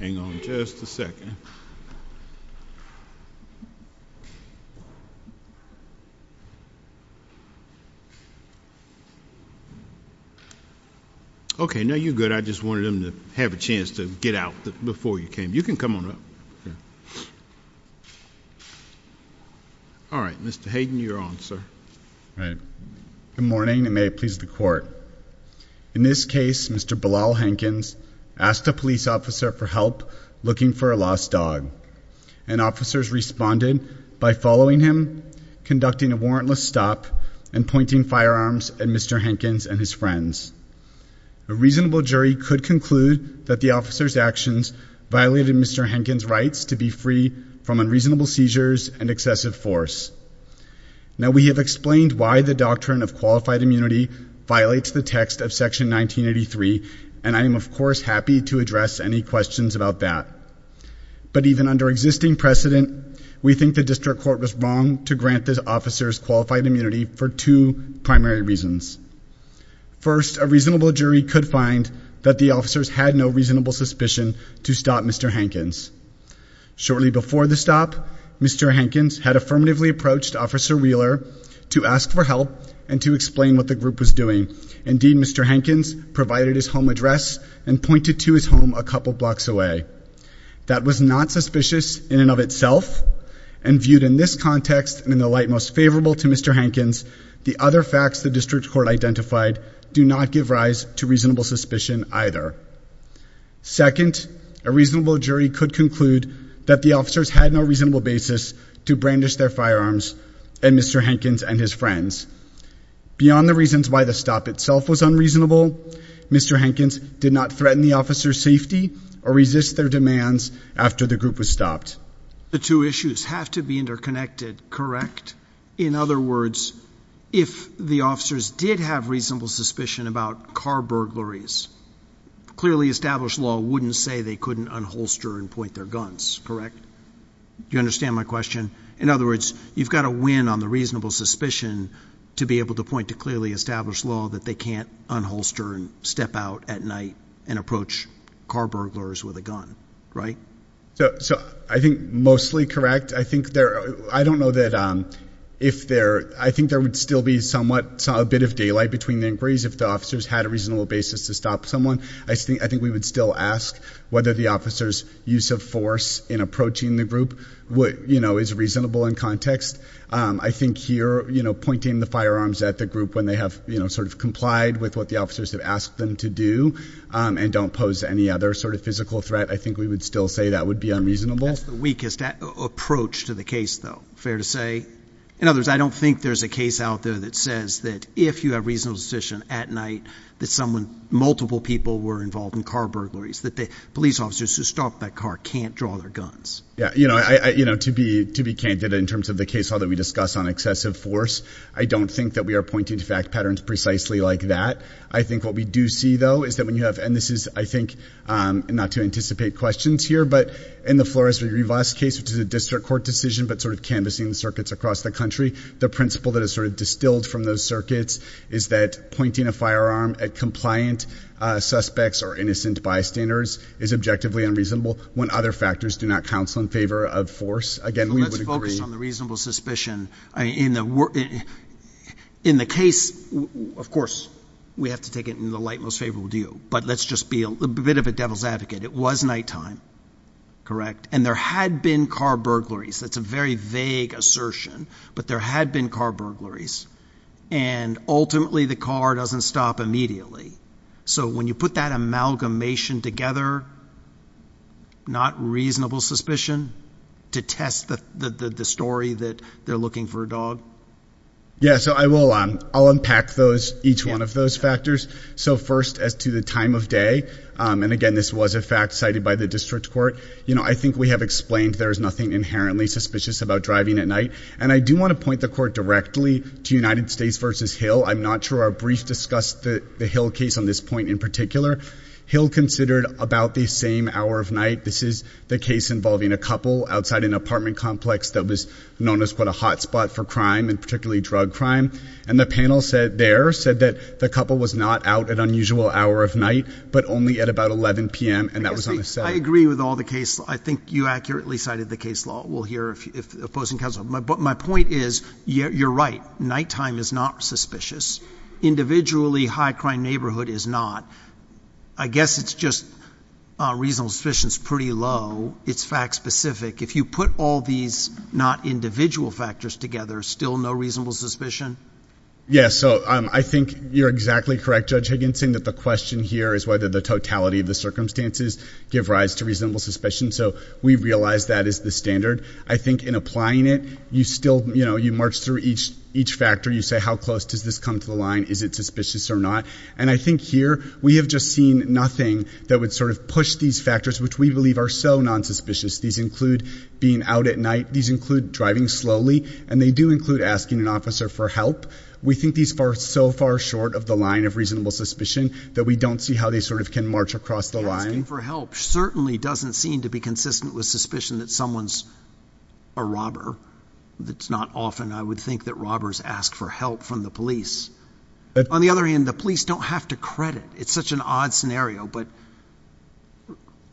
Hang on just a second. Okay, now you're good. I just wanted them to have a chance to get out before you came. You can come on up. All right, Mr. Hayden, you're on, sir, right? Good morning and may it please the court. In this case, Mr. Bilal Hankins asked a police officer for help looking for a lost dog and officers responded by following him, conducting a warrantless stop and pointing firearms at Mr. Hankins and his friends. A reasonable jury could conclude that the officer's actions violated Mr. Hankins' rights to be free from unreasonable seizures and excessive force. Now, we have explained why the doctrine of qualified immunity violates the text of section 1983 and I am, of course, happy to address any questions about that. But even under existing precedent, we think the district court was wrong to grant the officer's qualified immunity for two primary reasons. First, a reasonable jury could find that the officers had no reasonable suspicion to stop Mr. Hankins. Shortly before the stop, Mr. Hankins had affirmatively approached Officer Wheeler to ask for help and to explain what the group was doing. Indeed, Mr. Hankins provided his home address and pointed to his home a couple blocks away. That was not suspicious in and of itself and viewed in this context and in the light most favorable to Mr. Hankins, the other facts the district court identified do not give rise to reasonable suspicion either. Second, a reasonable jury could conclude that the officers had no reasonable basis to brandish their firearms at Mr. Hankins and his friends. Beyond the reasons why the stop itself was unreasonable, Mr. Hankins did not threaten the officer's safety or resist their demands after the group was stopped. The two issues have to be interconnected, correct? In other words, if the officers did have reasonable suspicion about car burglaries, clearly established law wouldn't say they couldn't unholster and point their guns, correct? Do you understand my question? In other words, you've got to win on the reasonable suspicion to be able to point to clearly established law that they can't unholster and step out at night and approach car burglars with a gun, right? So I think mostly correct. I think there, I don't know that if there, I think there would still be somewhat, a bit of daylight between the inquiries if the officers had a reasonable basis to stop someone. I think we would still ask whether the officer's use of force in approaching the group would, you know, is reasonable in context. I think here, you know, pointing the firearms at the group when they have, you know, sort of complied with what the officers have asked them to do and don't pose any other sort of physical threat, I think we would still say that would be unreasonable. That's the weakest approach to the case though, fair to say. In other words, I don't think there's a case out there that says that if you have reasonable suspicion at night that someone, multiple people were can't draw their guns. Yeah, you know, I, you know, to be, to be candid in terms of the case law that we discuss on excessive force, I don't think that we are pointing to fact patterns precisely like that. I think what we do see though, is that when you have, and this is, I think, not to anticipate questions here, but in the Flores-Rivas case, which is a district court decision, but sort of canvassing circuits across the country, the principle that is sort of distilled from those circuits is that pointing a firearm at compliant suspects or innocent bystanders is objectively unreasonable when other factors do not counsel in favor of force. Again, we would agree. Let's focus on the reasonable suspicion. In the case, of course, we have to take it in the light most favorable deal, but let's just be a bit of a devil's advocate. It was nighttime, correct? And there had been car burglaries. That's a very vague assertion, but there had been car burglaries and ultimately the car doesn't stop immediately. So when you put that amalgamation together, not reasonable suspicion to test the story that they're looking for a dog. Yeah. So I will, I'll unpack those, each one of those factors. So first as to the time of day, and again, this was a fact cited by the district court. You know, I think we have explained there is nothing inherently suspicious about driving at night. And I do want to point the court directly to United States versus Hill. I'm not sure our brief discussed the Hill case on this point in particular Hill considered about the same hour of night. This is the case involving a couple outside an apartment complex that was known as what a hotspot for crime and particularly drug crime. And the panel said there said that the couple was not out at unusual hour of night, but only at about 11 PM. And that was on a set. I agree with all the case. I think you accurately cited the case law. We'll hear if opposing counsel. My book, my point is you're right. Nighttime is not suspicious. Individually high crime neighborhood is not, I guess it's just a reasonable suspicion. It's pretty low. It's fact specific. If you put all these not individual factors together, still no reasonable suspicion. Yeah. So, um, I think you're exactly correct. Judge Higginson, that the question here is whether the totality of the circumstances give rise to reasonable suspicion. So we've realized that is the standard. I think in each factor you say, how close does this come to the line? Is it suspicious or not? And I think here we have just seen nothing that would sort of push these factors, which we believe are so non suspicious. These include being out at night. These include driving slowly and they do include asking an officer for help. We think these far so far short of the line of reasonable suspicion that we don't see how they sort of can march across the line for help. Certainly doesn't seem to be consistent with suspicion that someone's a robber. That's not often. I would think that robbers ask for help from the police. On the other hand, the police don't have to credit. It's such an odd scenario, but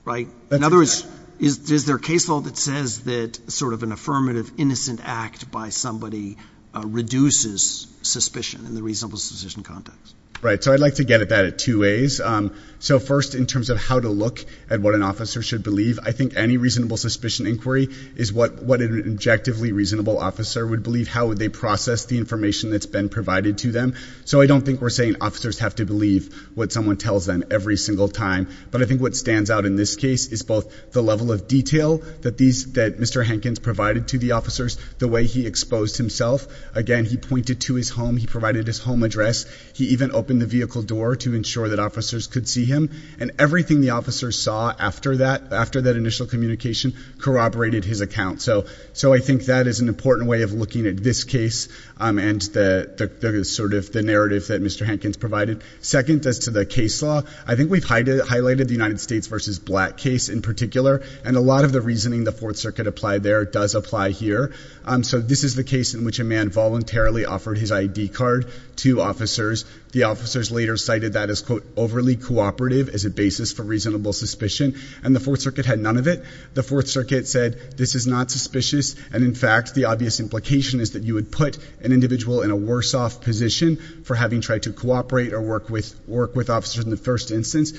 right. In other words, is there a case law that says that sort of an affirmative innocent act by somebody reduces suspicion in the reasonable suspicion context? Right. So I'd like to get at that at two ways. Um, so first in terms of how to look at what an officer should believe, I think any reasonable suspicion inquiry is what, what an objectively reasonable officer would believe. How would they process the information that's been provided to them? So I don't think we're saying officers have to believe what someone tells them every single time. But I think what stands out in this case is both the level of detail that these, that Mr. Hankins provided to the officers, the way he exposed himself. Again, he pointed to his home, he provided his home address. He even opened the vehicle door to ensure that officers could see him and everything the officers saw after that, after that initial communication corroborated his account. So, so I think that is an important way of looking at this case. Um, and the, the, the sort of the narrative that Mr. Hankins provided. Second as to the case law, I think we've highlighted the United States versus black case in particular and a lot of the reasoning the fourth circuit applied there does apply here. Um, so this is the case in which a man voluntarily offered his ID card to officers. The officers later cited that as quote overly cooperative as a basis for reasonable suspicion and the fourth circuit had none of it. The fourth circuit said this is not suspicious. And in fact, the obvious implication is that you would put an individual in a worse off position for having tried to cooperate or work with, work with officers in the first instance.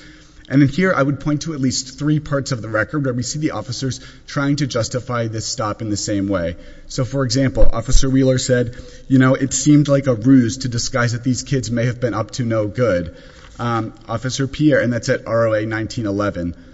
And then here I would point to at least three parts of the record where we see the officers trying to justify this stop in the same way. So for example, officer Wheeler said, you may have been up to no good. Um, officer Pierre and that's at ROA 1911.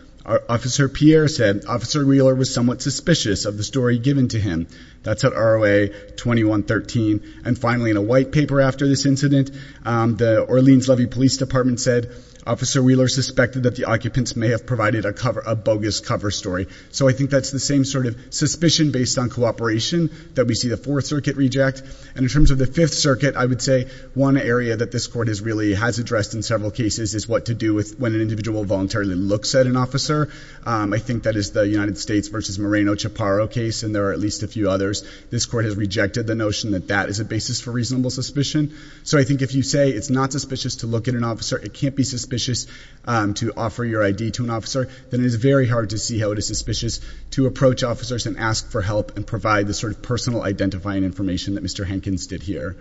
Officer Pierre said officer Wheeler was somewhat suspicious of the story given to him. That's at ROA 2113. And finally in a white paper after this incident, um, the Orleans Levy Police Department said officer Wheeler suspected that the occupants may have provided a cover, a bogus cover story. So I think that's the same sort of suspicion based on cooperation that we see the fourth circuit reject. And in terms of the fifth circuit, I would say one area that this court has really has addressed in several cases is what to do with when an individual voluntarily looks at an officer. Um, I think that is the United States versus Moreno Chaparro case. And there are at least a few others. This court has rejected the notion that that is a basis for reasonable suspicion. So I think if you say it's not suspicious to look at an officer, it can't be suspicious, um, to offer your ID to an officer, then it is very hard to see how it is suspicious to approach officers and ask for help and provide the personal identifying information that Mr. Hankins did here.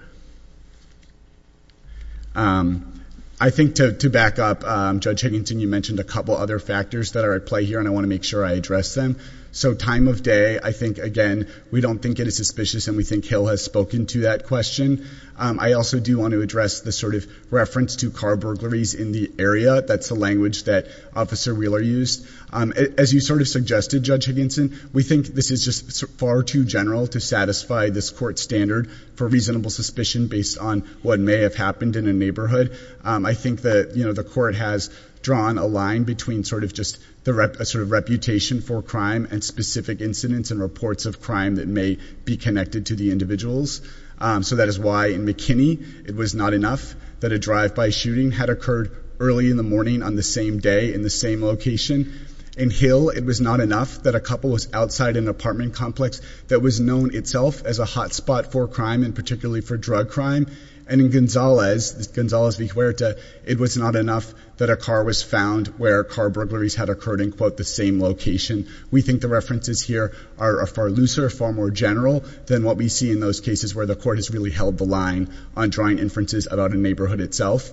Um, I think to, to back up, um, Judge Higginson, you mentioned a couple other factors that are at play here and I want to make sure I address them. So time of day, I think again, we don't think it is suspicious and we think Hill has spoken to that question. Um, I also do want to address the sort of reference to car burglaries in the area. That's the language that officer Wheeler used. Um, as you sort of suggested, Judge Higginson, we think this is just far too general to satisfy this court standard for reasonable suspicion based on what may have happened in a neighborhood. Um, I think that, you know, the court has drawn a line between sort of just the rep sort of reputation for crime and specific incidents and reports of crime that may be connected to the individuals. Um, so that is why in McKinney, it was not enough that a drive by shooting had occurred early in the morning on the same day in the same location. In Hill, it was not enough that a couple was outside an apartment complex that was known itself as a hotspot for crime and particularly for drug crime. And in Gonzales, Gonzales Viguerta, it was not enough that a car was found where car burglaries had occurred in quote the same location. We think the references here are far looser, far more general than what we see in those cases where the court has really held the line on drawing inferences about a neighborhood itself.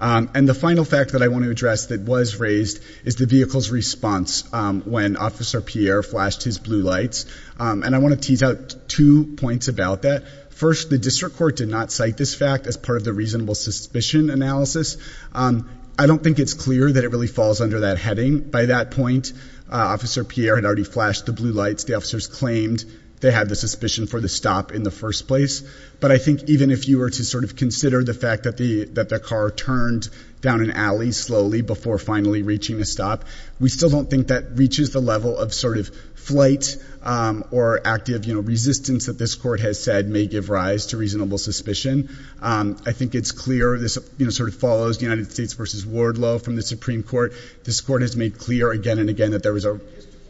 Um, and the final fact that I want to address that was raised is the vehicle's response, um, when officer Pierre flashed his blue lights. Um, and I want to tease out two points about that. First, the district court did not cite this fact as part of the reasonable suspicion analysis. Um, I don't think it's clear that it really falls under that heading. By that point, uh, officer Pierre had already flashed the blue lights. The officers claimed they had the suspicion for the stop in the first place. But I think even if you were to sort of consider the fact that the, that the car turned down an alley slowly before finally reaching a stop, we still don't think that reaches the level of sort of flight, um, or active, you know, resistance that this court has said may give rise to reasonable suspicion. Um, I think it's clear this, you know, sort of follows the United States versus Wardlow from the Supreme Court. This court has made clear again and again that there was a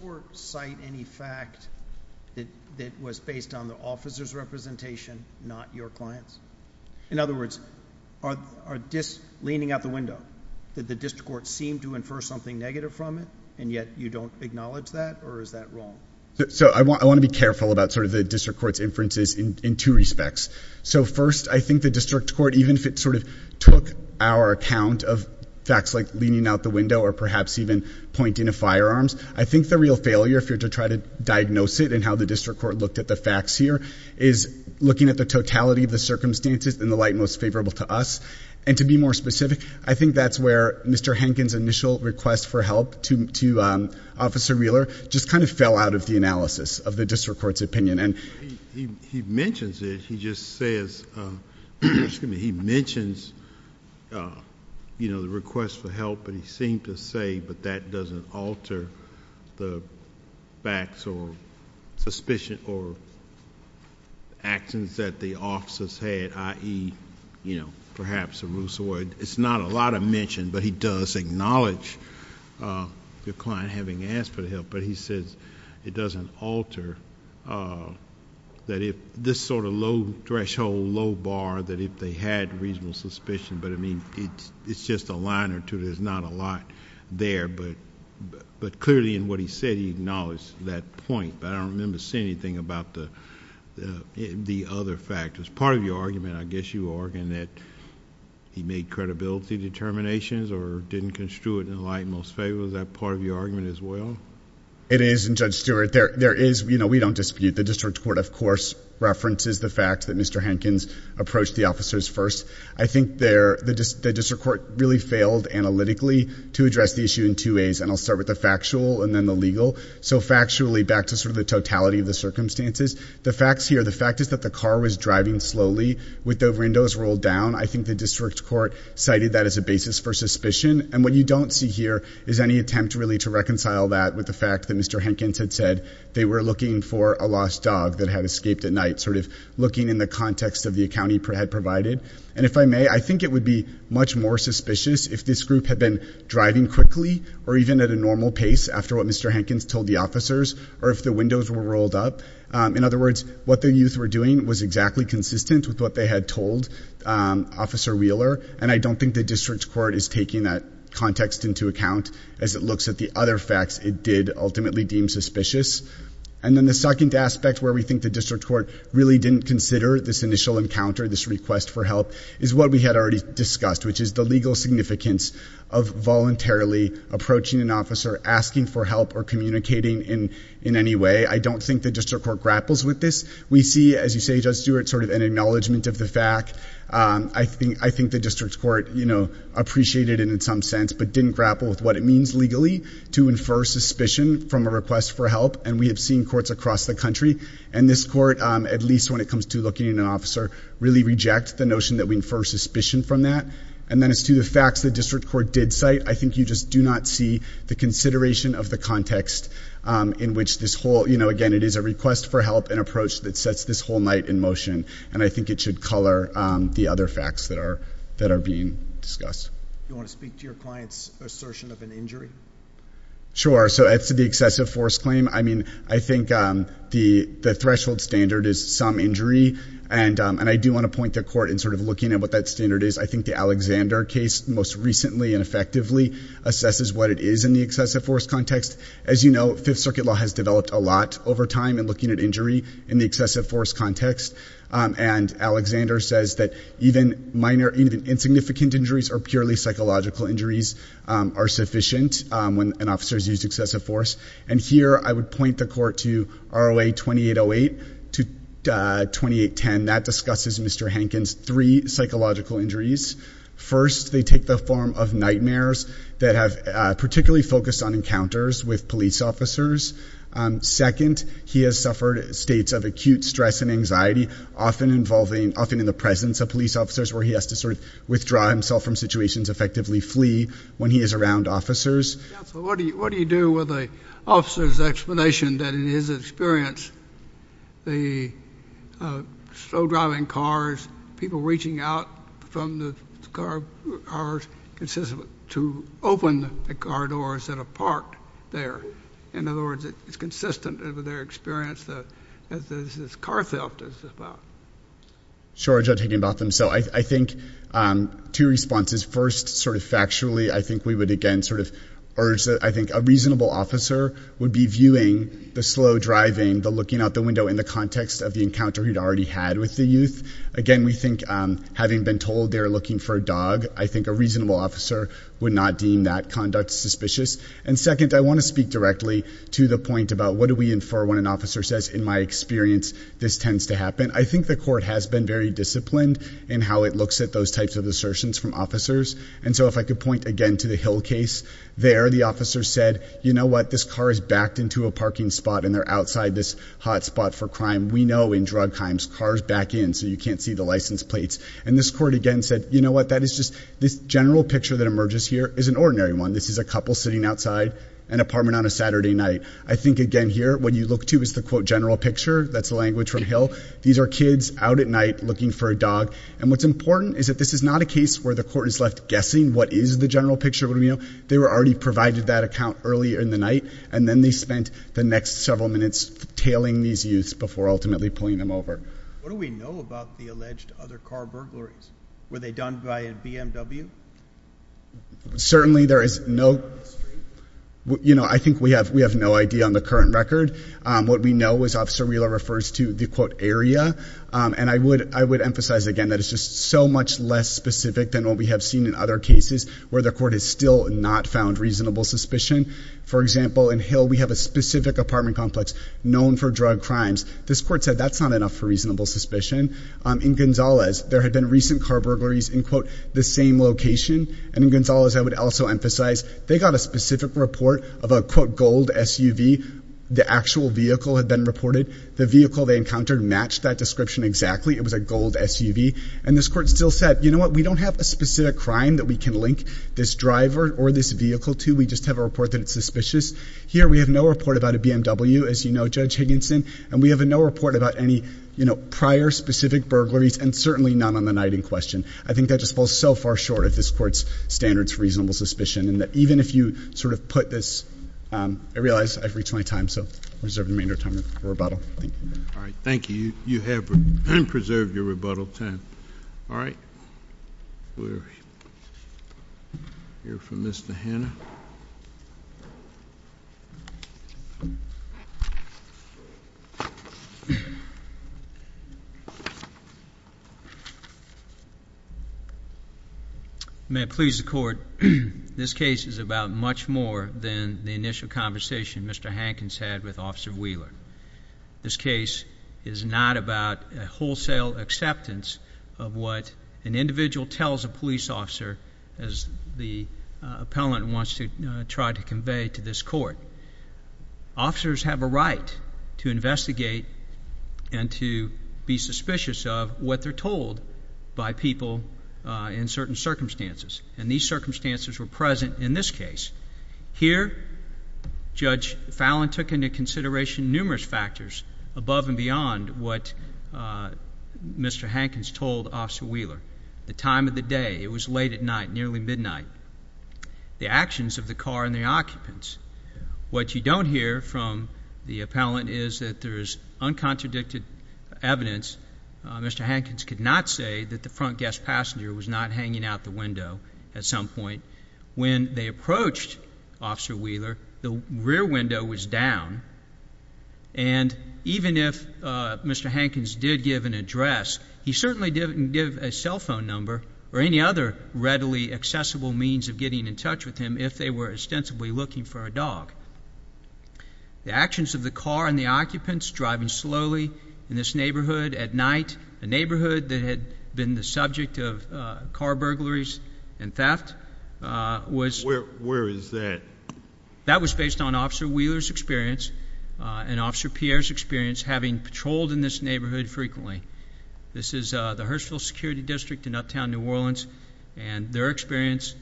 court site. Any fact that that was based on the officer's did the district court seem to infer something negative from it and yet you don't acknowledge that or is that wrong? So I want, I want to be careful about sort of the district court's inferences in two respects. So first I think the district court, even if it sort of took our account of facts like leaning out the window or perhaps even pointing a firearms, I think the real failure, if you're to try to diagnose it and how the district court looked at the facts here is looking at the totality of the circumstances in the light most favorable to us. And to be more specific, I think that's where Mr. Hankins initial request for help to, to, um, officer Wheeler just kind of fell out of the analysis of the district court's opinion. And he mentions it, he just says, um, excuse me, he mentions, uh, you know, the request for help and he seemed to say, but that doesn't alter the facts or suspicion or actions that the officers had, i.e., you know, perhaps a ruse or it's not a lot of mention, but he does acknowledge, uh, the client having asked for the help, but he says it doesn't alter, uh, that if this sort of low threshold, low bar that if they had reasonable suspicion, but I mean, it's just a line or two, there's not a lot there, but, but clearly in what he said, he acknowledged that point, but I don't remember seeing anything about the, uh, the other factors. Part of your argument, I guess you are in that he made credibility determinations or didn't construe it in the light most favorable. Is that part of your argument as well? It is. And Judge Stewart, there, there is, you know, we don't dispute the district court, of course, references the fact that Mr. Hankins approached the officers first. I think there, the district court really failed analytically to address the issue in two ways. And I'll start with the factual and then the legal. So factually back to sort of the totality of the circumstances, the facts here, the fact is that the car was driving slowly with the windows rolled down. I think the district court cited that as a basis for suspicion. And what you don't see here is any attempt really to reconcile that with the fact that Mr. Hankins had said they were looking for a lost dog that had escaped at night, sort of looking in the context of the account he had provided. And if I may, I think it would be much more suspicious if this group had been driving quickly or even at a normal pace after what Mr. Hankins told the officers or if the windows were rolled up. In other words, what the youth were doing was exactly consistent with what they had told Officer Wheeler. And I don't think the district court is taking that context into account as it looks at the other facts it did ultimately deem suspicious. And then the second aspect where we think the district court really didn't consider this initial encounter, this request for help, is what we had already discussed, which is the legal significance of voluntarily approaching an officer, asking for help, or communicating in any way. I don't think the district court grapples with this. We see, as you say Judge Stewart, sort of an acknowledgment of the fact. I think the district court, you know, appreciated it in some sense, but didn't grapple with what it means legally to infer suspicion from a request for help. And we have seen courts across the country, and this court, at least when it comes to looking at an officer, really reject the notion that we infer suspicion from that. And then as to the facts the district court did cite, I think you just do not see the consideration of the context in which this whole, you know, again, it is a request for help, an approach that sets this whole night in motion. And I think it should color the other facts that are being discussed. You want to speak to your client's assertion of an injury? Sure. So as to the excessive force claim, I mean, I think the threshold standard is some injury. And I do want to point the court in sort of looking at what that standard is. I think the Alexander case most recently and effectively assesses what it is in the excessive force context. As you know, Fifth Circuit law has developed a lot over time in looking at injury in the excessive force context. And Alexander says that even minor, even insignificant injuries or purely psychological injuries are sufficient when an officer's used excessive force. And here I would point the court to ROA 2808 to 2810. That discusses Mr. Hankins' three psychological injuries. First, they take the form of nightmares that have particularly focused on encounters with police officers. Second, he has suffered states of acute stress and anxiety, often involving, often in the presence of police officers, where he has to sort of withdraw himself from situations, effectively flee when he is around officers. What do you do with an officer's explanation that, in his experience, the slow-driving cars, people reaching out from the cars, are consistent to open the car doors that are parked there? In other words, it's consistent with their experience that this car theft is about? Sure, Judge Higginbotham. So I think two responses. First, sort of factually, I think we would again sort of urge that I think a reasonable officer would be viewing the slow driving, the looking out the window in the context of the encounter he'd already had with the youth. Again, we think having been told they're looking for a dog, I think a reasonable officer would not deem that conduct suspicious. And second, I want to speak directly to the point about what do we infer when an officer says, in my experience, this tends to happen. I think the court has been very disciplined in how it types of assertions from officers. And so if I could point again to the Hill case, there the officer said, you know what, this car is backed into a parking spot and they're outside this hot spot for crime. We know in drug crimes, cars back in so you can't see the license plates. And this court again said, you know what, that is just this general picture that emerges here is an ordinary one. This is a couple sitting outside an apartment on a Saturday night. I think again here, what you look to is the quote general picture. That's the language from Hill. These are kids out at night looking for a dog. And what's important is that this is not a case where the court is left guessing what is the general picture. They were already provided that account earlier in the night. And then they spent the next several minutes tailing these youths before ultimately pulling them over. What do we know about the alleged other car burglaries? Were they done by a BMW? Certainly there is no, you know, I think we have, we have no idea on current record. What we know is Officer Wheeler refers to the quote area. And I would, I would emphasize again that it's just so much less specific than what we have seen in other cases where the court has still not found reasonable suspicion. For example, in Hill, we have a specific apartment complex known for drug crimes. This court said that's not enough for reasonable suspicion. In Gonzalez, there had been recent car burglaries in quote the same location. And in of a quote gold SUV, the actual vehicle had been reported. The vehicle they encountered matched that description exactly. It was a gold SUV. And this court still said, you know what, we don't have a specific crime that we can link this driver or this vehicle to. We just have a report that it's suspicious here. We have no report about a BMW, as you know, Judge Higginson, and we have a no report about any, you know, prior specific burglaries and certainly not on the night in question. I think that just falls so far short of this court's standards for reasonable suspicion. Even if you sort of put this, I realize I've reached my time, so I reserve the remainder of time for rebuttal. Thank you. All right. Thank you. You have preserved your rebuttal time. All right. We'll hear from Mr. Hanna. Yeah. May it please the court. This case is about much more than the initial conversation Mr Hankins had with Officer Wheeler. This case is not about a wholesale acceptance of what an individual tells a police officer as the appellant wants to try to convey to this court. Officers have a right to investigate and to be suspicious of what they're told by people in certain circumstances, and these circumstances were present in this case. Here, Judge Fallon took into consideration numerous factors above and beyond what Mr Hankins told Officer Wheeler. The time of the day. It was late at night, nearly midnight. The actions of the car and the occupants. What you don't hear from the appellant is that there's uncontradicted evidence. Mr Hankins could not say that the front guest passenger was not hanging out the window at some point. When they approached Officer Wheeler, the rear window was down, and even if Mr Hankins did give an address, he certainly didn't give a cell phone number or any other readily accessible means of getting in touch with him if they were ostensibly looking for a dog. The actions of the car and the occupants driving slowly in this neighborhood at night, a neighborhood that had been the subject of car burglaries and theft. Where is that? That was based on Officer Wheeler's experience and Officer Pierre's experience having patrolled in this neighborhood frequently. This is the Hurstville Security District in uptown New Orleans, and their experience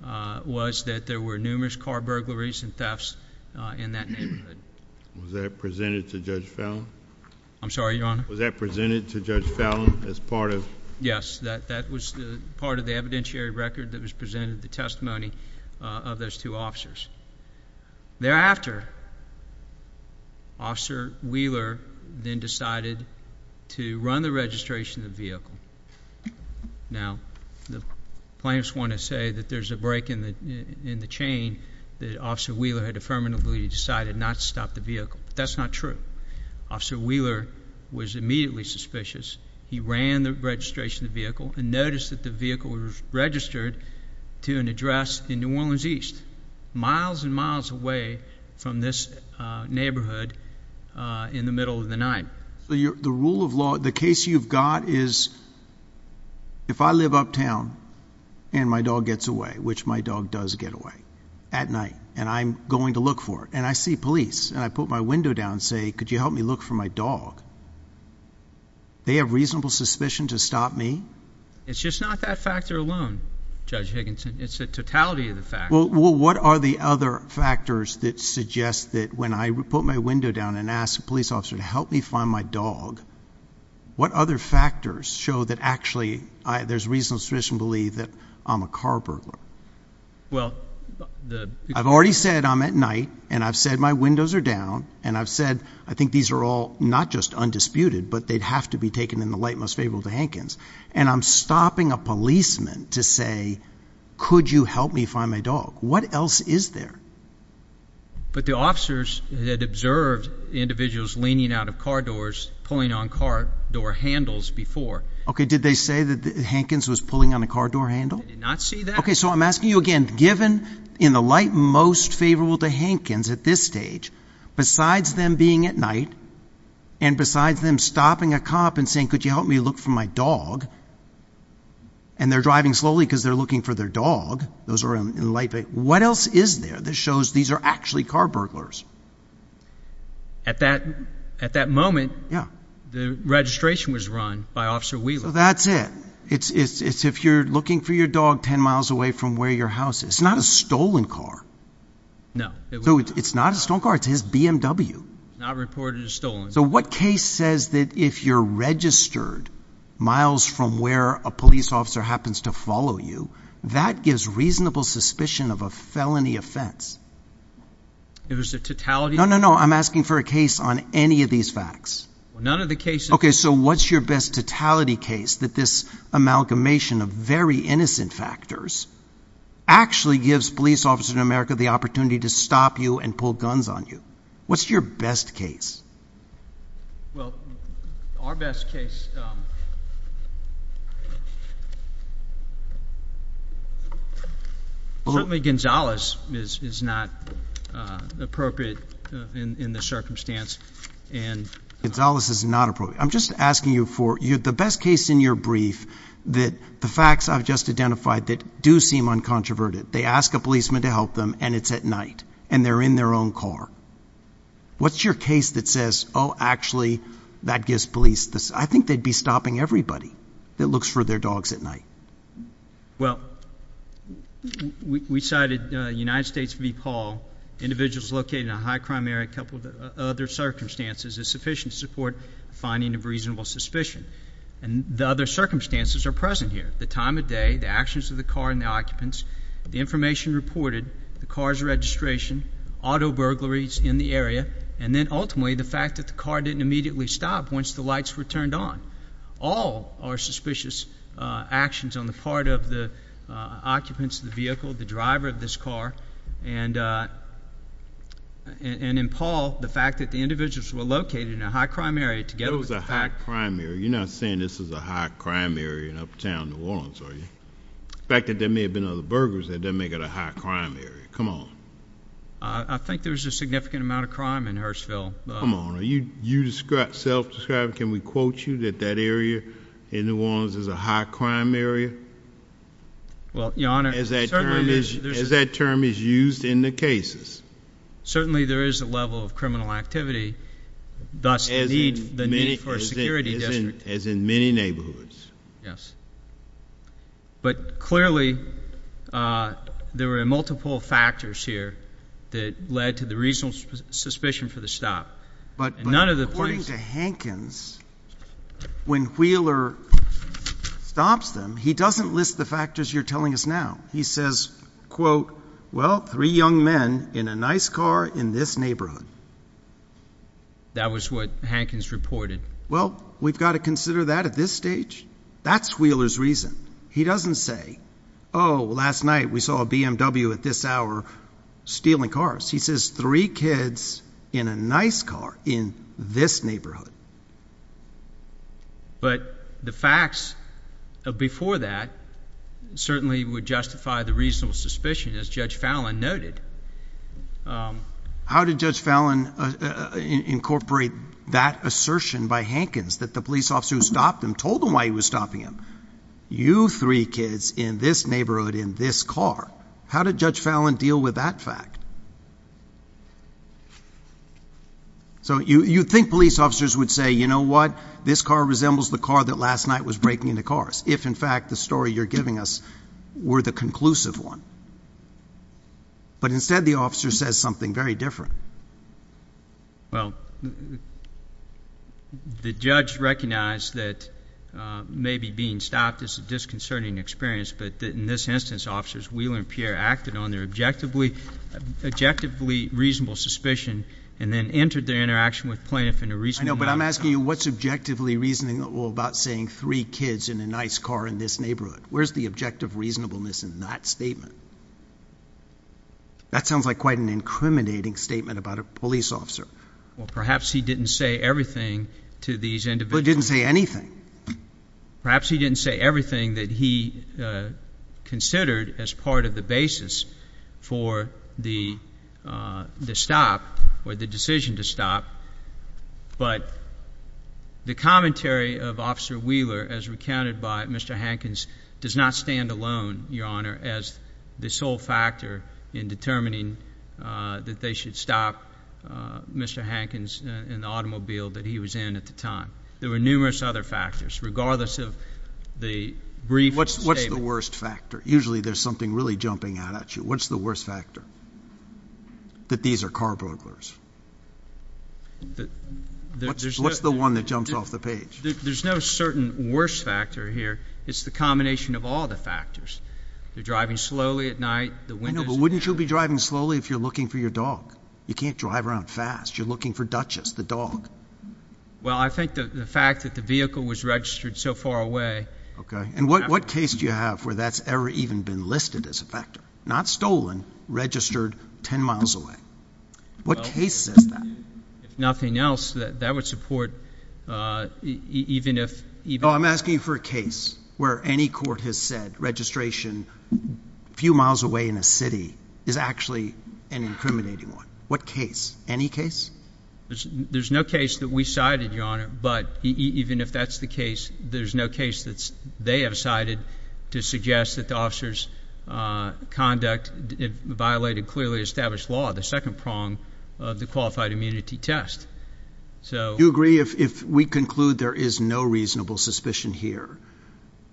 was that there were numerous car burglaries and thefts in that neighborhood. Was that presented to Judge Fallon? I'm sorry, Your Honor? Was that presented to Judge Fallon as part of? Yes, that was the part of the evidentiary record that was presented, the evidence. Thereafter, Officer Wheeler then decided to run the registration of the vehicle. Now, the plaintiffs want to say that there's a break in the chain that Officer Wheeler had affirmatively decided not to stop the vehicle. That's not true. Officer Wheeler was immediately suspicious. He ran the registration of the vehicle and noticed that the vehicle was registered to an officer who was miles and miles away from this neighborhood in the middle of the night. The rule of law, the case you've got is, if I live uptown and my dog gets away, which my dog does get away at night, and I'm going to look for it, and I see police, and I put my window down and say, could you help me look for my dog? They have reasonable suspicion to stop me? It's just not that factor alone, Judge Higginson. It's the totality of the fact. Well, what are the other factors that suggest that when I put my window down and ask a police officer to help me find my dog, what other factors show that actually there's reasonable suspicion to believe that I'm a car burglar? Well, I've already said I'm at night, and I've said my windows are down, and I've said, I think these are all not just undisputed, but they'd have to be taken in the light most to Hankins, and I'm stopping a policeman to say, could you help me find my dog? What else is there? But the officers had observed individuals leaning out of car doors, pulling on car door handles before. Okay, did they say that Hankins was pulling on a car door handle? I did not see that. Okay, so I'm asking you again, given in the light most favorable to Hankins at this stage, besides them being at night, and besides them stopping a cop and saying, could you help me find my dog, and they're driving slowly because they're looking for their dog, those are in the light, what else is there that shows these are actually car burglars? At that moment, the registration was run by Officer Wheeler. So that's it. It's if you're looking for your dog 10 miles away from where your house is. It's not a stolen car. No. So it's not a stolen car, it's his BMW. Not reported as stolen. So what case says that if you're registered miles from where a police officer happens to follow you, that gives reasonable suspicion of a felony offense? If it's a totality? No, no, no, I'm asking for a case on any of these facts. None of the cases. Okay, so what's your best totality case that this amalgamation of very innocent factors actually gives police officers in America the Well, our best case. Well, I mean, Gonzalez is not appropriate in the circumstance. And it's all this is not appropriate. I'm just asking you for you the best case in your brief, that the facts I've just identified that do seem uncontroverted. They ask a policeman to help them and it's at night and they're in their own car. What's your case that says, Oh, actually, that gives police this, I think they'd be stopping everybody that looks for their dogs at night. Well, we cited United States v. Paul, individuals located in a high crime area, a couple of other circumstances is sufficient to support finding of reasonable suspicion. And the other circumstances are present here, the time of day, the actions of the car and the information reported, the car's registration, auto burglaries in the area, and then ultimately, the fact that the car didn't immediately stop once the lights were turned on. All are suspicious actions on the part of the occupants of the vehicle, the driver of this car. And, and in Paul, the fact that the individuals were located in a high crime area together with a high crime area, you're not saying this is a high crime area in uptown New Orleans, are you? The fact that there may have been other burglars that doesn't make it a high crime area, come on. I think there's a significant amount of crime in Hurstville. Come on, are you, you describe, self-describe, can we quote you that that area in New Orleans is a high crime area? Well, Your Honor, As that term is, as that term is used in the cases. Certainly there is a level of criminal activity, thus the need, the need for a security district. As in many neighborhoods. Yes. But clearly, uh, there were multiple factors here that led to the reasonable suspicion for the stop. But, but according to Hankins, when Wheeler stops them, he doesn't list the factors you're telling us now. He says, quote, well, three young men in a nice car in this neighborhood. That was what Hankins reported. Well, we've got to consider that at this stage. That's Wheeler's reason. He doesn't say, oh, last night we saw a BMW at this hour stealing cars. He says three kids in a nice car in this neighborhood. But the facts before that certainly would justify the reasonable suspicion as Judge Fallon noted. Um, how did Judge Fallon, uh, incorporate that assertion by Hankins that the police officer who stopped him told him why he was stopping him? You three kids in this neighborhood, in this car, how did Judge Fallon deal with that fact? So you, you think police officers would say, you know what? This car resembles the car that last night was breaking into cars. If in fact the story you're giving us were the conclusive one. But instead, the officer says something very different. Well, the judge recognized that, uh, maybe being stopped is a disconcerting experience. But in this instance, officers Wheeler and Pierre acted on their objectively, objectively reasonable suspicion, and then entered their interaction with plaintiff in a reasonable- I know, but I'm asking you, what's objectively reasonable about saying three kids in a nice car in this neighborhood? Where's the objective reasonableness in that statement? That sounds like quite an incriminating statement about a police officer. Well, perhaps he didn't say everything to these individuals. But he didn't say anything. Perhaps he didn't say everything that he, uh, considered as part of the basis for the, uh, the stop or the decision to stop. But the commentary of Officer Wheeler, as recounted by Mr. Hankins, does not stand alone, Your Honor, as the sole factor in determining, uh, that they should stop, uh, Mr. Hankins in the automobile that he was in at the time. There were numerous other factors, regardless of the brief statement. What's the worst factor? Usually there's something really jumping out at you. What's the worst factor? That these are car burglars. What's the one that jumps off the page? There's no certain worst factor here. It's the combination of all the factors. They're driving slowly at night. No, but wouldn't you be driving slowly if you're looking for your dog? You can't drive around fast. You're looking for Duchess, the dog. Well, I think the fact that the vehicle was registered so far away. Okay. And what case do you have where that's ever even been listed as a factor? Not stolen, registered 10 miles away. What case is that? If nothing else, that would support, uh, even if... I'm asking you for a case where any court has said registration a few miles away in a city is actually an incriminating one. What case? Any case? There's no case that we cited, Your Honor. But even if that's the case, there's no case that they have cited to suggest that the officer's conduct violated clearly established law, the second prong of the qualified immunity test. Do you agree if we conclude there is no reasonable suspicion here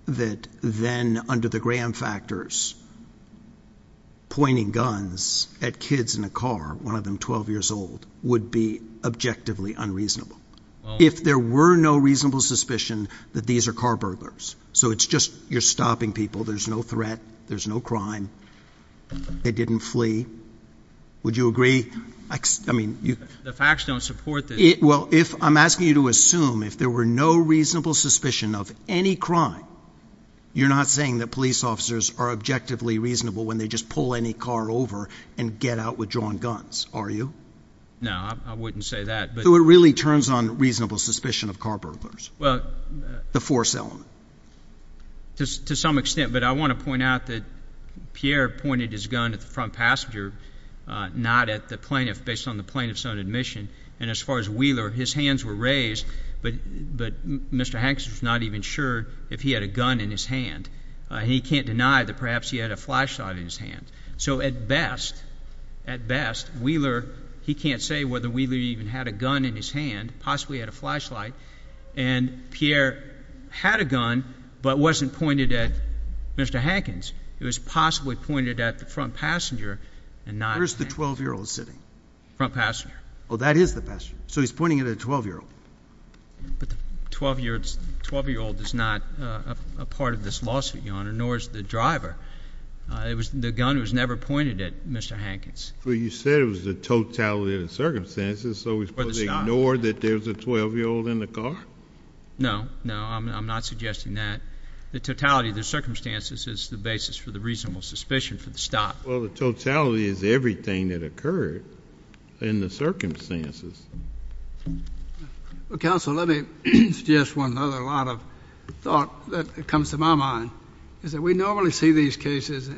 that then under the Graham factors, pointing guns at kids in a car, one of them 12 years old, would be objectively unreasonable? If there were no reasonable suspicion that these are car burglars, so it's just you're stopping people. There's no threat. There's no crime. They didn't flee. Would you agree? I mean, you... The facts don't support that. Well, if I'm asking you to assume if there were no reasonable suspicion of any crime, you're not saying that police officers are objectively reasonable when they just pull any car over and get out with drawn guns, are you? No, I wouldn't say that. So it really turns on reasonable suspicion of car burglars? Well... The force element. To some extent, but I want to point out that Pierre pointed his gun at the front passenger, not at the plaintiff, based on the plaintiff's own admission. And as far as Wheeler, his hands were raised, but Mr. Hankins was not even sure if he had a gun in his hand. He can't deny that perhaps he had a flashlight in his hand. So at best, at best, Wheeler, he can't say whether Wheeler even had a gun in his hand, possibly had a flashlight. And Pierre had a gun, but wasn't pointed at Mr. Hankins. It was possibly pointed at the front passenger and not... Where is the 12-year-old sitting? Front passenger. Oh, that is the passenger. So he's pointing it at a 12-year-old. But the 12-year-old is not a part of this lawsuit, Your Honor, nor is the driver. The gun was never pointed at Mr. Hankins. But you said it was the totality of the circumstances, so we're supposed to ignore that there was a 12-year-old in the car? No, no, I'm not suggesting that. The totality of the circumstances is the basis for the reasonable suspicion for the stop. Well, the totality is everything that occurred in the circumstances. Counsel, let me suggest one other line of thought that comes to my mind, is that we normally see these cases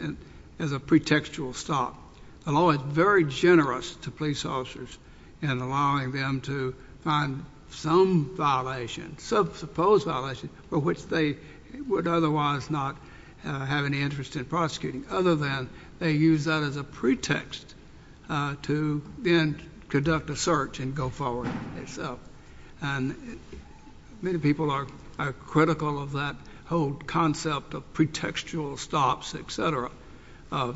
as a pretextual stop. The law is very generous to police officers in allowing them to find some violation, some supposed violation, for which they would otherwise not have any interest in prosecuting, other than they use that as a pretext to then conduct a search and go forward itself. And many people are critical of that whole concept of pretextual stops, etc., a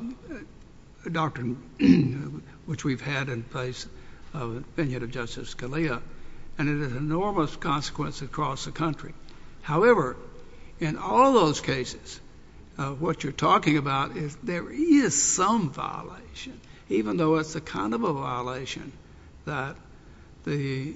doctrine which we've had in place of the opinion of Justice Scalia. And it has enormous consequence across the country. However, in all those cases, what you're talking about is there is some violation, even though it's the kind of a violation that the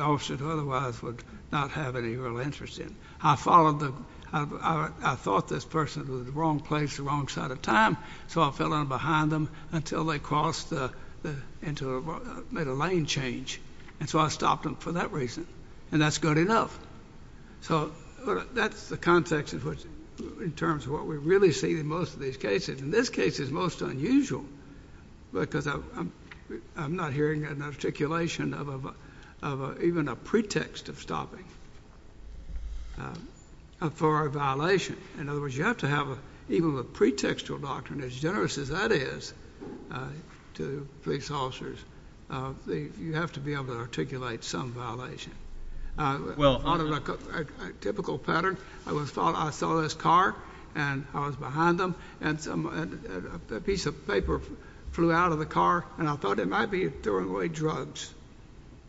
officer who otherwise would not have any real interest in. I followed the—I thought this person was at the wrong place at the wrong side of time, so I fell in behind them until they crossed into—made a lane change. And so I stopped them for that reason. And that's good enough. So that's the context in terms of what we really see in most of these cases. In this case, it's most unusual because I'm not hearing an articulation of even a pretext of stopping for a violation. In other words, you have to have even the pretextual doctrine, as generous as that is to police officers, you have to be able to articulate some violation. Well— On a typical pattern, I was following—I saw this car, and I was behind them, and a piece of paper flew out of the car, and I thought it might be throwing away drugs.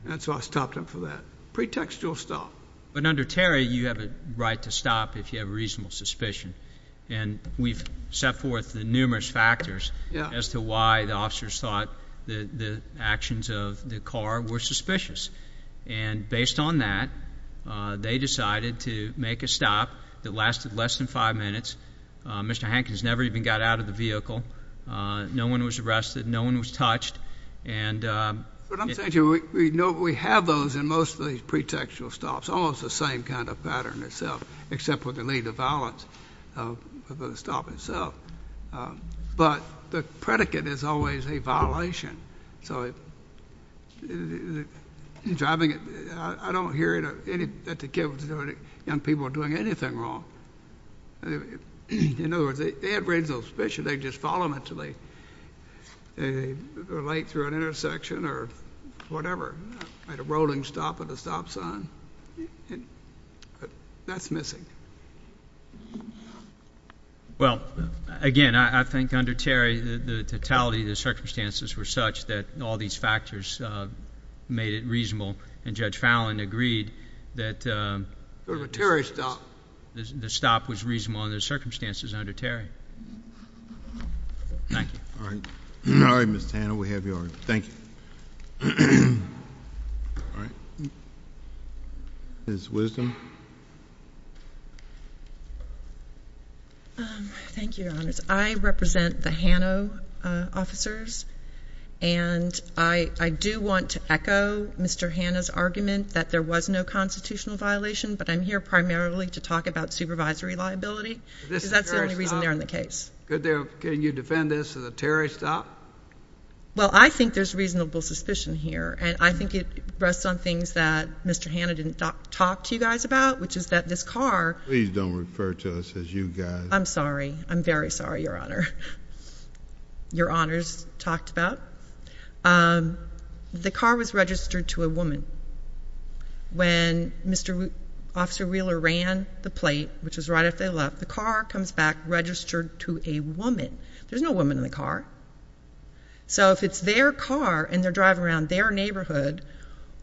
And so I stopped them for that pretextual stop. But under Terry, you have a right to stop if you have a reasonable suspicion. And we've set forth the numerous factors as to why the officers thought the actions of the car were suspicious. And based on that, they decided to make a stop that lasted less than five minutes. Mr. Hankins never even got out of the vehicle. No one was arrested. No one was touched. And— But I'm saying to you, we have those in most of these pretextual stops. Almost the same kind of pattern itself, except with the lead to violence of the stop itself. But the predicate is always a violation. So driving—I don't hear that the kids or young people are doing anything wrong. In other words, they have reasonable suspicion. They just follow mentally. They were late through an intersection or whatever, at a rolling stop at a stop sign. And that's missing. Well, again, I think under Terry, the totality of the circumstances were such that all these factors made it reasonable. And Judge Fallon agreed that— It was a Terry stop. The stop was reasonable under the circumstances under Terry. Thank you. All right. All right, Mr. Tanner. We have your—thank you. All right. Ms. Wisdom. Thank you, Your Honors. I represent the Hanno officers. And I do want to echo Mr. Hanno's argument that there was no constitutional violation, but I'm here primarily to talk about supervisory liability, because that's the only reason they're in the case. Can you defend this as a Terry stop? Well, I think there's reasonable suspicion here. And I think it rests on things that Mr. Hanno didn't talk to you guys about, which is that this car— Please don't refer to us as you guys. I'm sorry. I'm very sorry, Your Honor. Your Honors talked about. The car was registered to a woman. When Mr. Officer Wheeler ran the plate, which was right after they left, the car comes back registered to a woman. There's no woman in the car. So if it's their car and they're driving around their neighborhood,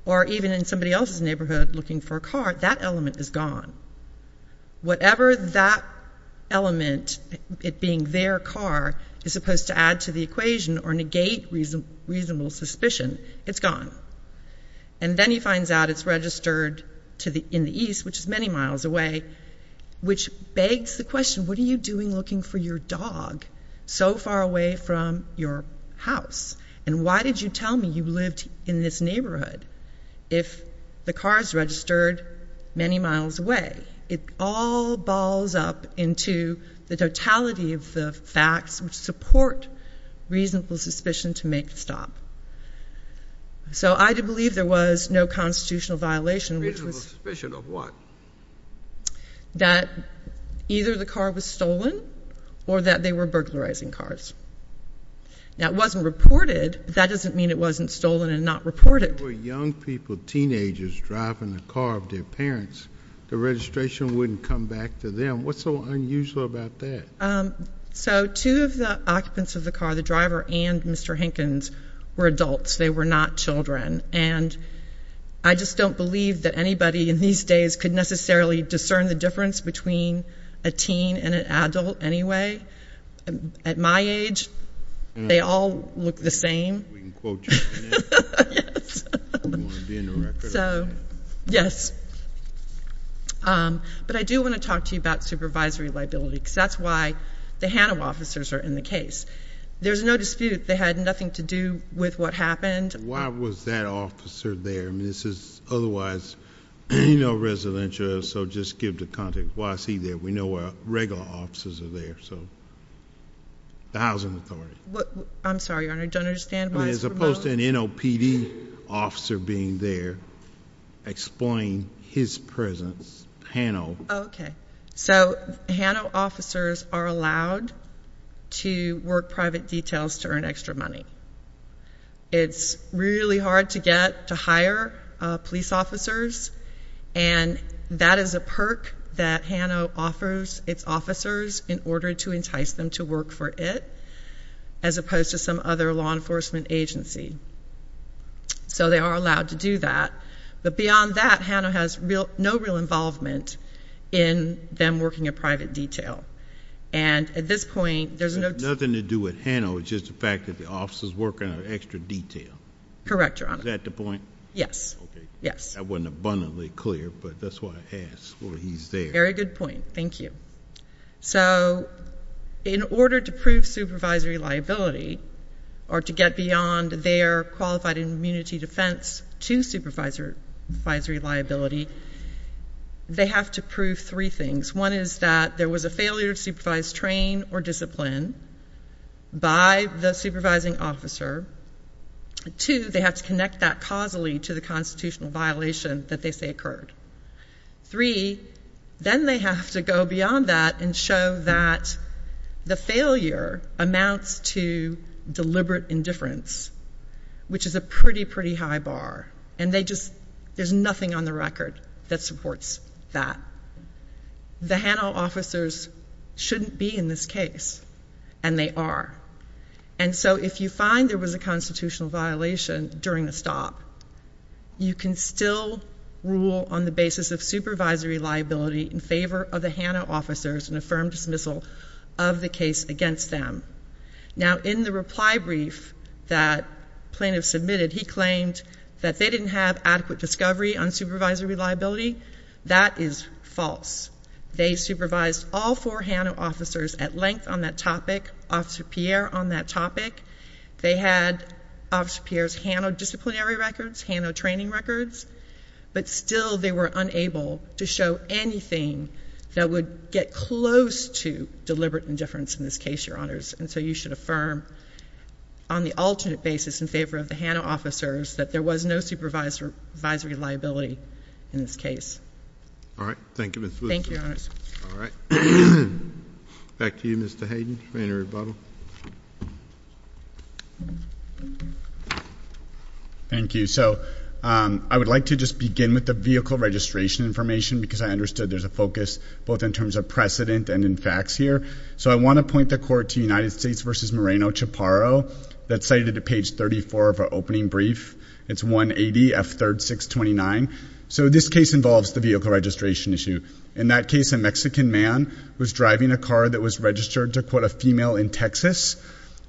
or even in somebody else's neighborhood looking for a car, that element is gone. Whatever that element, it being their car, is supposed to add to the equation or negate reasonable suspicion, it's gone. And then he finds out it's registered in the east, which is many miles away, which begs the question, what are you doing looking for your dog so far away from your house? And why did you tell me you lived in this neighborhood if the car is registered many miles away? It all balls up into the totality of the facts which support reasonable suspicion to make the stop. So I do believe there was no constitutional violation, which was— Reasonable suspicion of what? That either the car was stolen or that they were burglarizing cars. Now, it wasn't reported. That doesn't mean it wasn't stolen and not reported. For young people, teenagers, driving the car of their parents, the registration wouldn't come back to them. What's so unusual about that? So two of the occupants of the car, the driver and Mr. Hinkins, were adults. They were not children. And I just don't believe that anybody in these days could necessarily discern the difference between a teen and an adult anyway. At my age, they all look the same. We can quote you on that. Yes. Do you want to be in the record? So, yes. But I do want to talk to you about supervisory liability because that's why the HANA officers are in the case. There's no dispute. They had nothing to do with what happened. Why was that officer there? This is otherwise no residential. So just give the context. Why is he there? We know our regular officers are there. So the Housing Authority. I'm sorry, Your Honor. I don't understand why it's promoted. As opposed to an NOPD officer being there, explain his presence, HANO. Okay. So HANO officers are allowed to work private details to earn extra money. It's really hard to get to hire police officers, and that is a perk that HANO offers its officers in order to entice them to work for it, as opposed to some other law enforcement agency. So they are allowed to do that. But beyond that, HANO has no real involvement in them working a private detail. And at this point, there's no— Nothing to do with HANO. It's just the fact that the officers work on an extra detail. Correct, Your Honor. Is that the point? Yes. Okay. Yes. That wasn't abundantly clear, but that's why I asked. Well, he's there. Very good point. Thank you. So in order to prove supervisory liability or to get beyond their qualified immunity defense to supervisory liability, they have to prove three things. One is that there was a failure to supervise train or discipline by the supervising officer. Two, they have to connect that causally to the constitutional violation that they say occurred. Three, then they have to go beyond that and show that the failure amounts to deliberate indifference, which is a pretty, pretty high bar. And they just— There's nothing on the record that supports that. The HANO officers shouldn't be in this case, and they are. And so if you find there was a constitutional violation during the stop, you can still rule on the basis of supervisory liability in favor of the HANO officers and affirm dismissal of the case against them. Now, in the reply brief that plaintiff submitted, he claimed that they didn't have adequate discovery on supervisory liability. That is false. They supervised all four HANO officers at length on that topic, Officer Pierre on that topic. They had Officer Pierre's HANO disciplinary records, HANO training records, but still they were unable to show anything that would get close to deliberate indifference in this case, Your Honors. And so you should affirm on the alternate basis in favor of the HANO officers that there was no supervisory liability in this case. All right. Thank you, Ms. Wilson. Thank you, Your Honors. All right. Back to you, Mr. Hayden, for any rebuttal. Thank you. So I would like to just begin with the vehicle registration information because I understood there's a focus both in terms of precedent and in facts here. So I want to point the court to United States v. Moreno-Chaparro that's cited at page 34 of our opening brief. It's 180F3-629. So this case involves the vehicle registration issue. In that case, a Mexican man was driving a car that was registered to, quote, a female in Texas.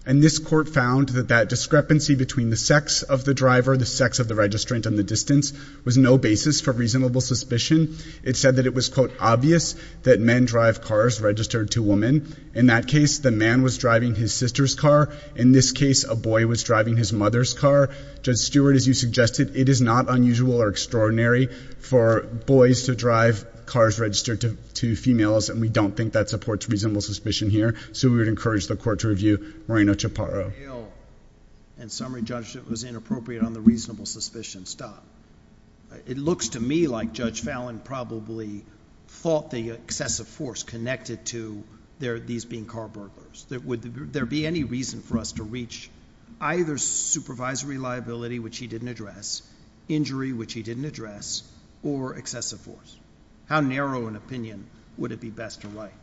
And this court found that that discrepancy between the sex of the driver, the sex of the registrant, and the distance was no basis for reasonable suspicion. It said that it was, quote, obvious that men drive cars registered to women. In that case, the man was driving his sister's car. In this case, a boy was driving his mother's car. Judge Stewart, as you suggested, it is not unusual or extraordinary for boys to drive cars registered to females. And we don't think that supports reasonable suspicion here. So we would encourage the court to review Moreno-Chaparro. In summary, Judge, it was inappropriate on the reasonable suspicion. Stop. It looks to me like Judge Fallon probably thought the excessive force connected to these being carbrokers. There be any reason for us to reach either supervisory liability, which he didn't address, injury, which he didn't address, or excessive force? How narrow an opinion would it be best to write?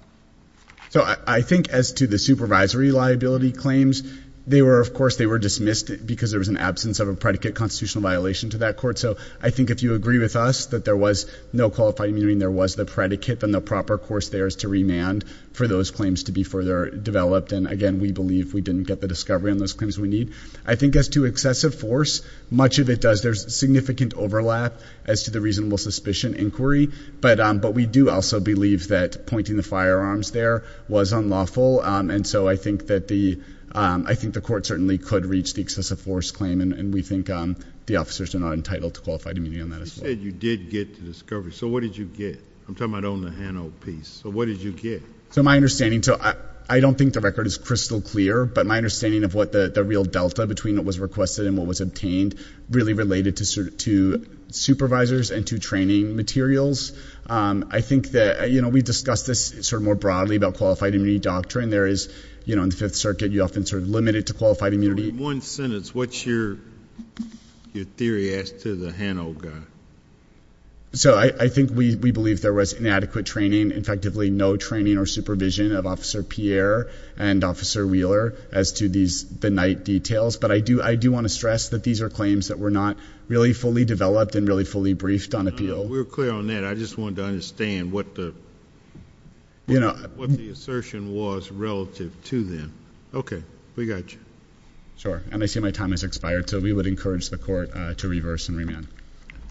So I think as to the supervisory liability claims, they were, of course, they were dismissed because there was an absence of a predicate constitutional violation to that court. So I think if you agree with us that there was no qualified immunity, and there was the predicate, then the proper course there is to remand for those claims to be further developed. And again, we believe we didn't get the discovery on those claims we need. I think as to excessive force, much of it does. There's significant overlap as to the reasonable suspicion inquiry. But we do also believe that pointing the firearms there was unlawful. And so I think that the, I think the court certainly could reach the excessive force claim. And we think the officers are not entitled to qualified immunity on that as well. You said you did get the discovery. So what did you get? I'm talking about on the Hano piece. So what did you get? So my understanding, so I don't think the record is crystal clear. But my understanding of what the real delta between what was requested and what was obtained really related to supervisors and to training materials. I think that, you know, we discussed this sort of more broadly about qualified immunity doctrine. There is, you know, in the Fifth Circuit, you're often sort of limited to qualified immunity. One sentence. What's your theory as to the Hano guy? So I think we believe there was inadequate training. Effectively, no training or supervision of Officer Pierre and Officer Wheeler as to these, the night details. But I do, I do want to stress that these are claims that were not really fully developed and really fully briefed on appeal. We're clear on that. I just wanted to understand what the, you know, what the assertion was relative to them. Okay. We got you. Sure. And I see my time has expired. So we would encourage the court to reverse and remand.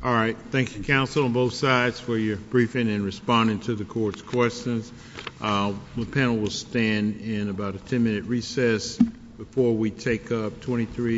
All right. Thank you, counsel, on both sides for your briefing and responding to the court's questions. The panel will stand in about a 10 minute recess before we take up 23.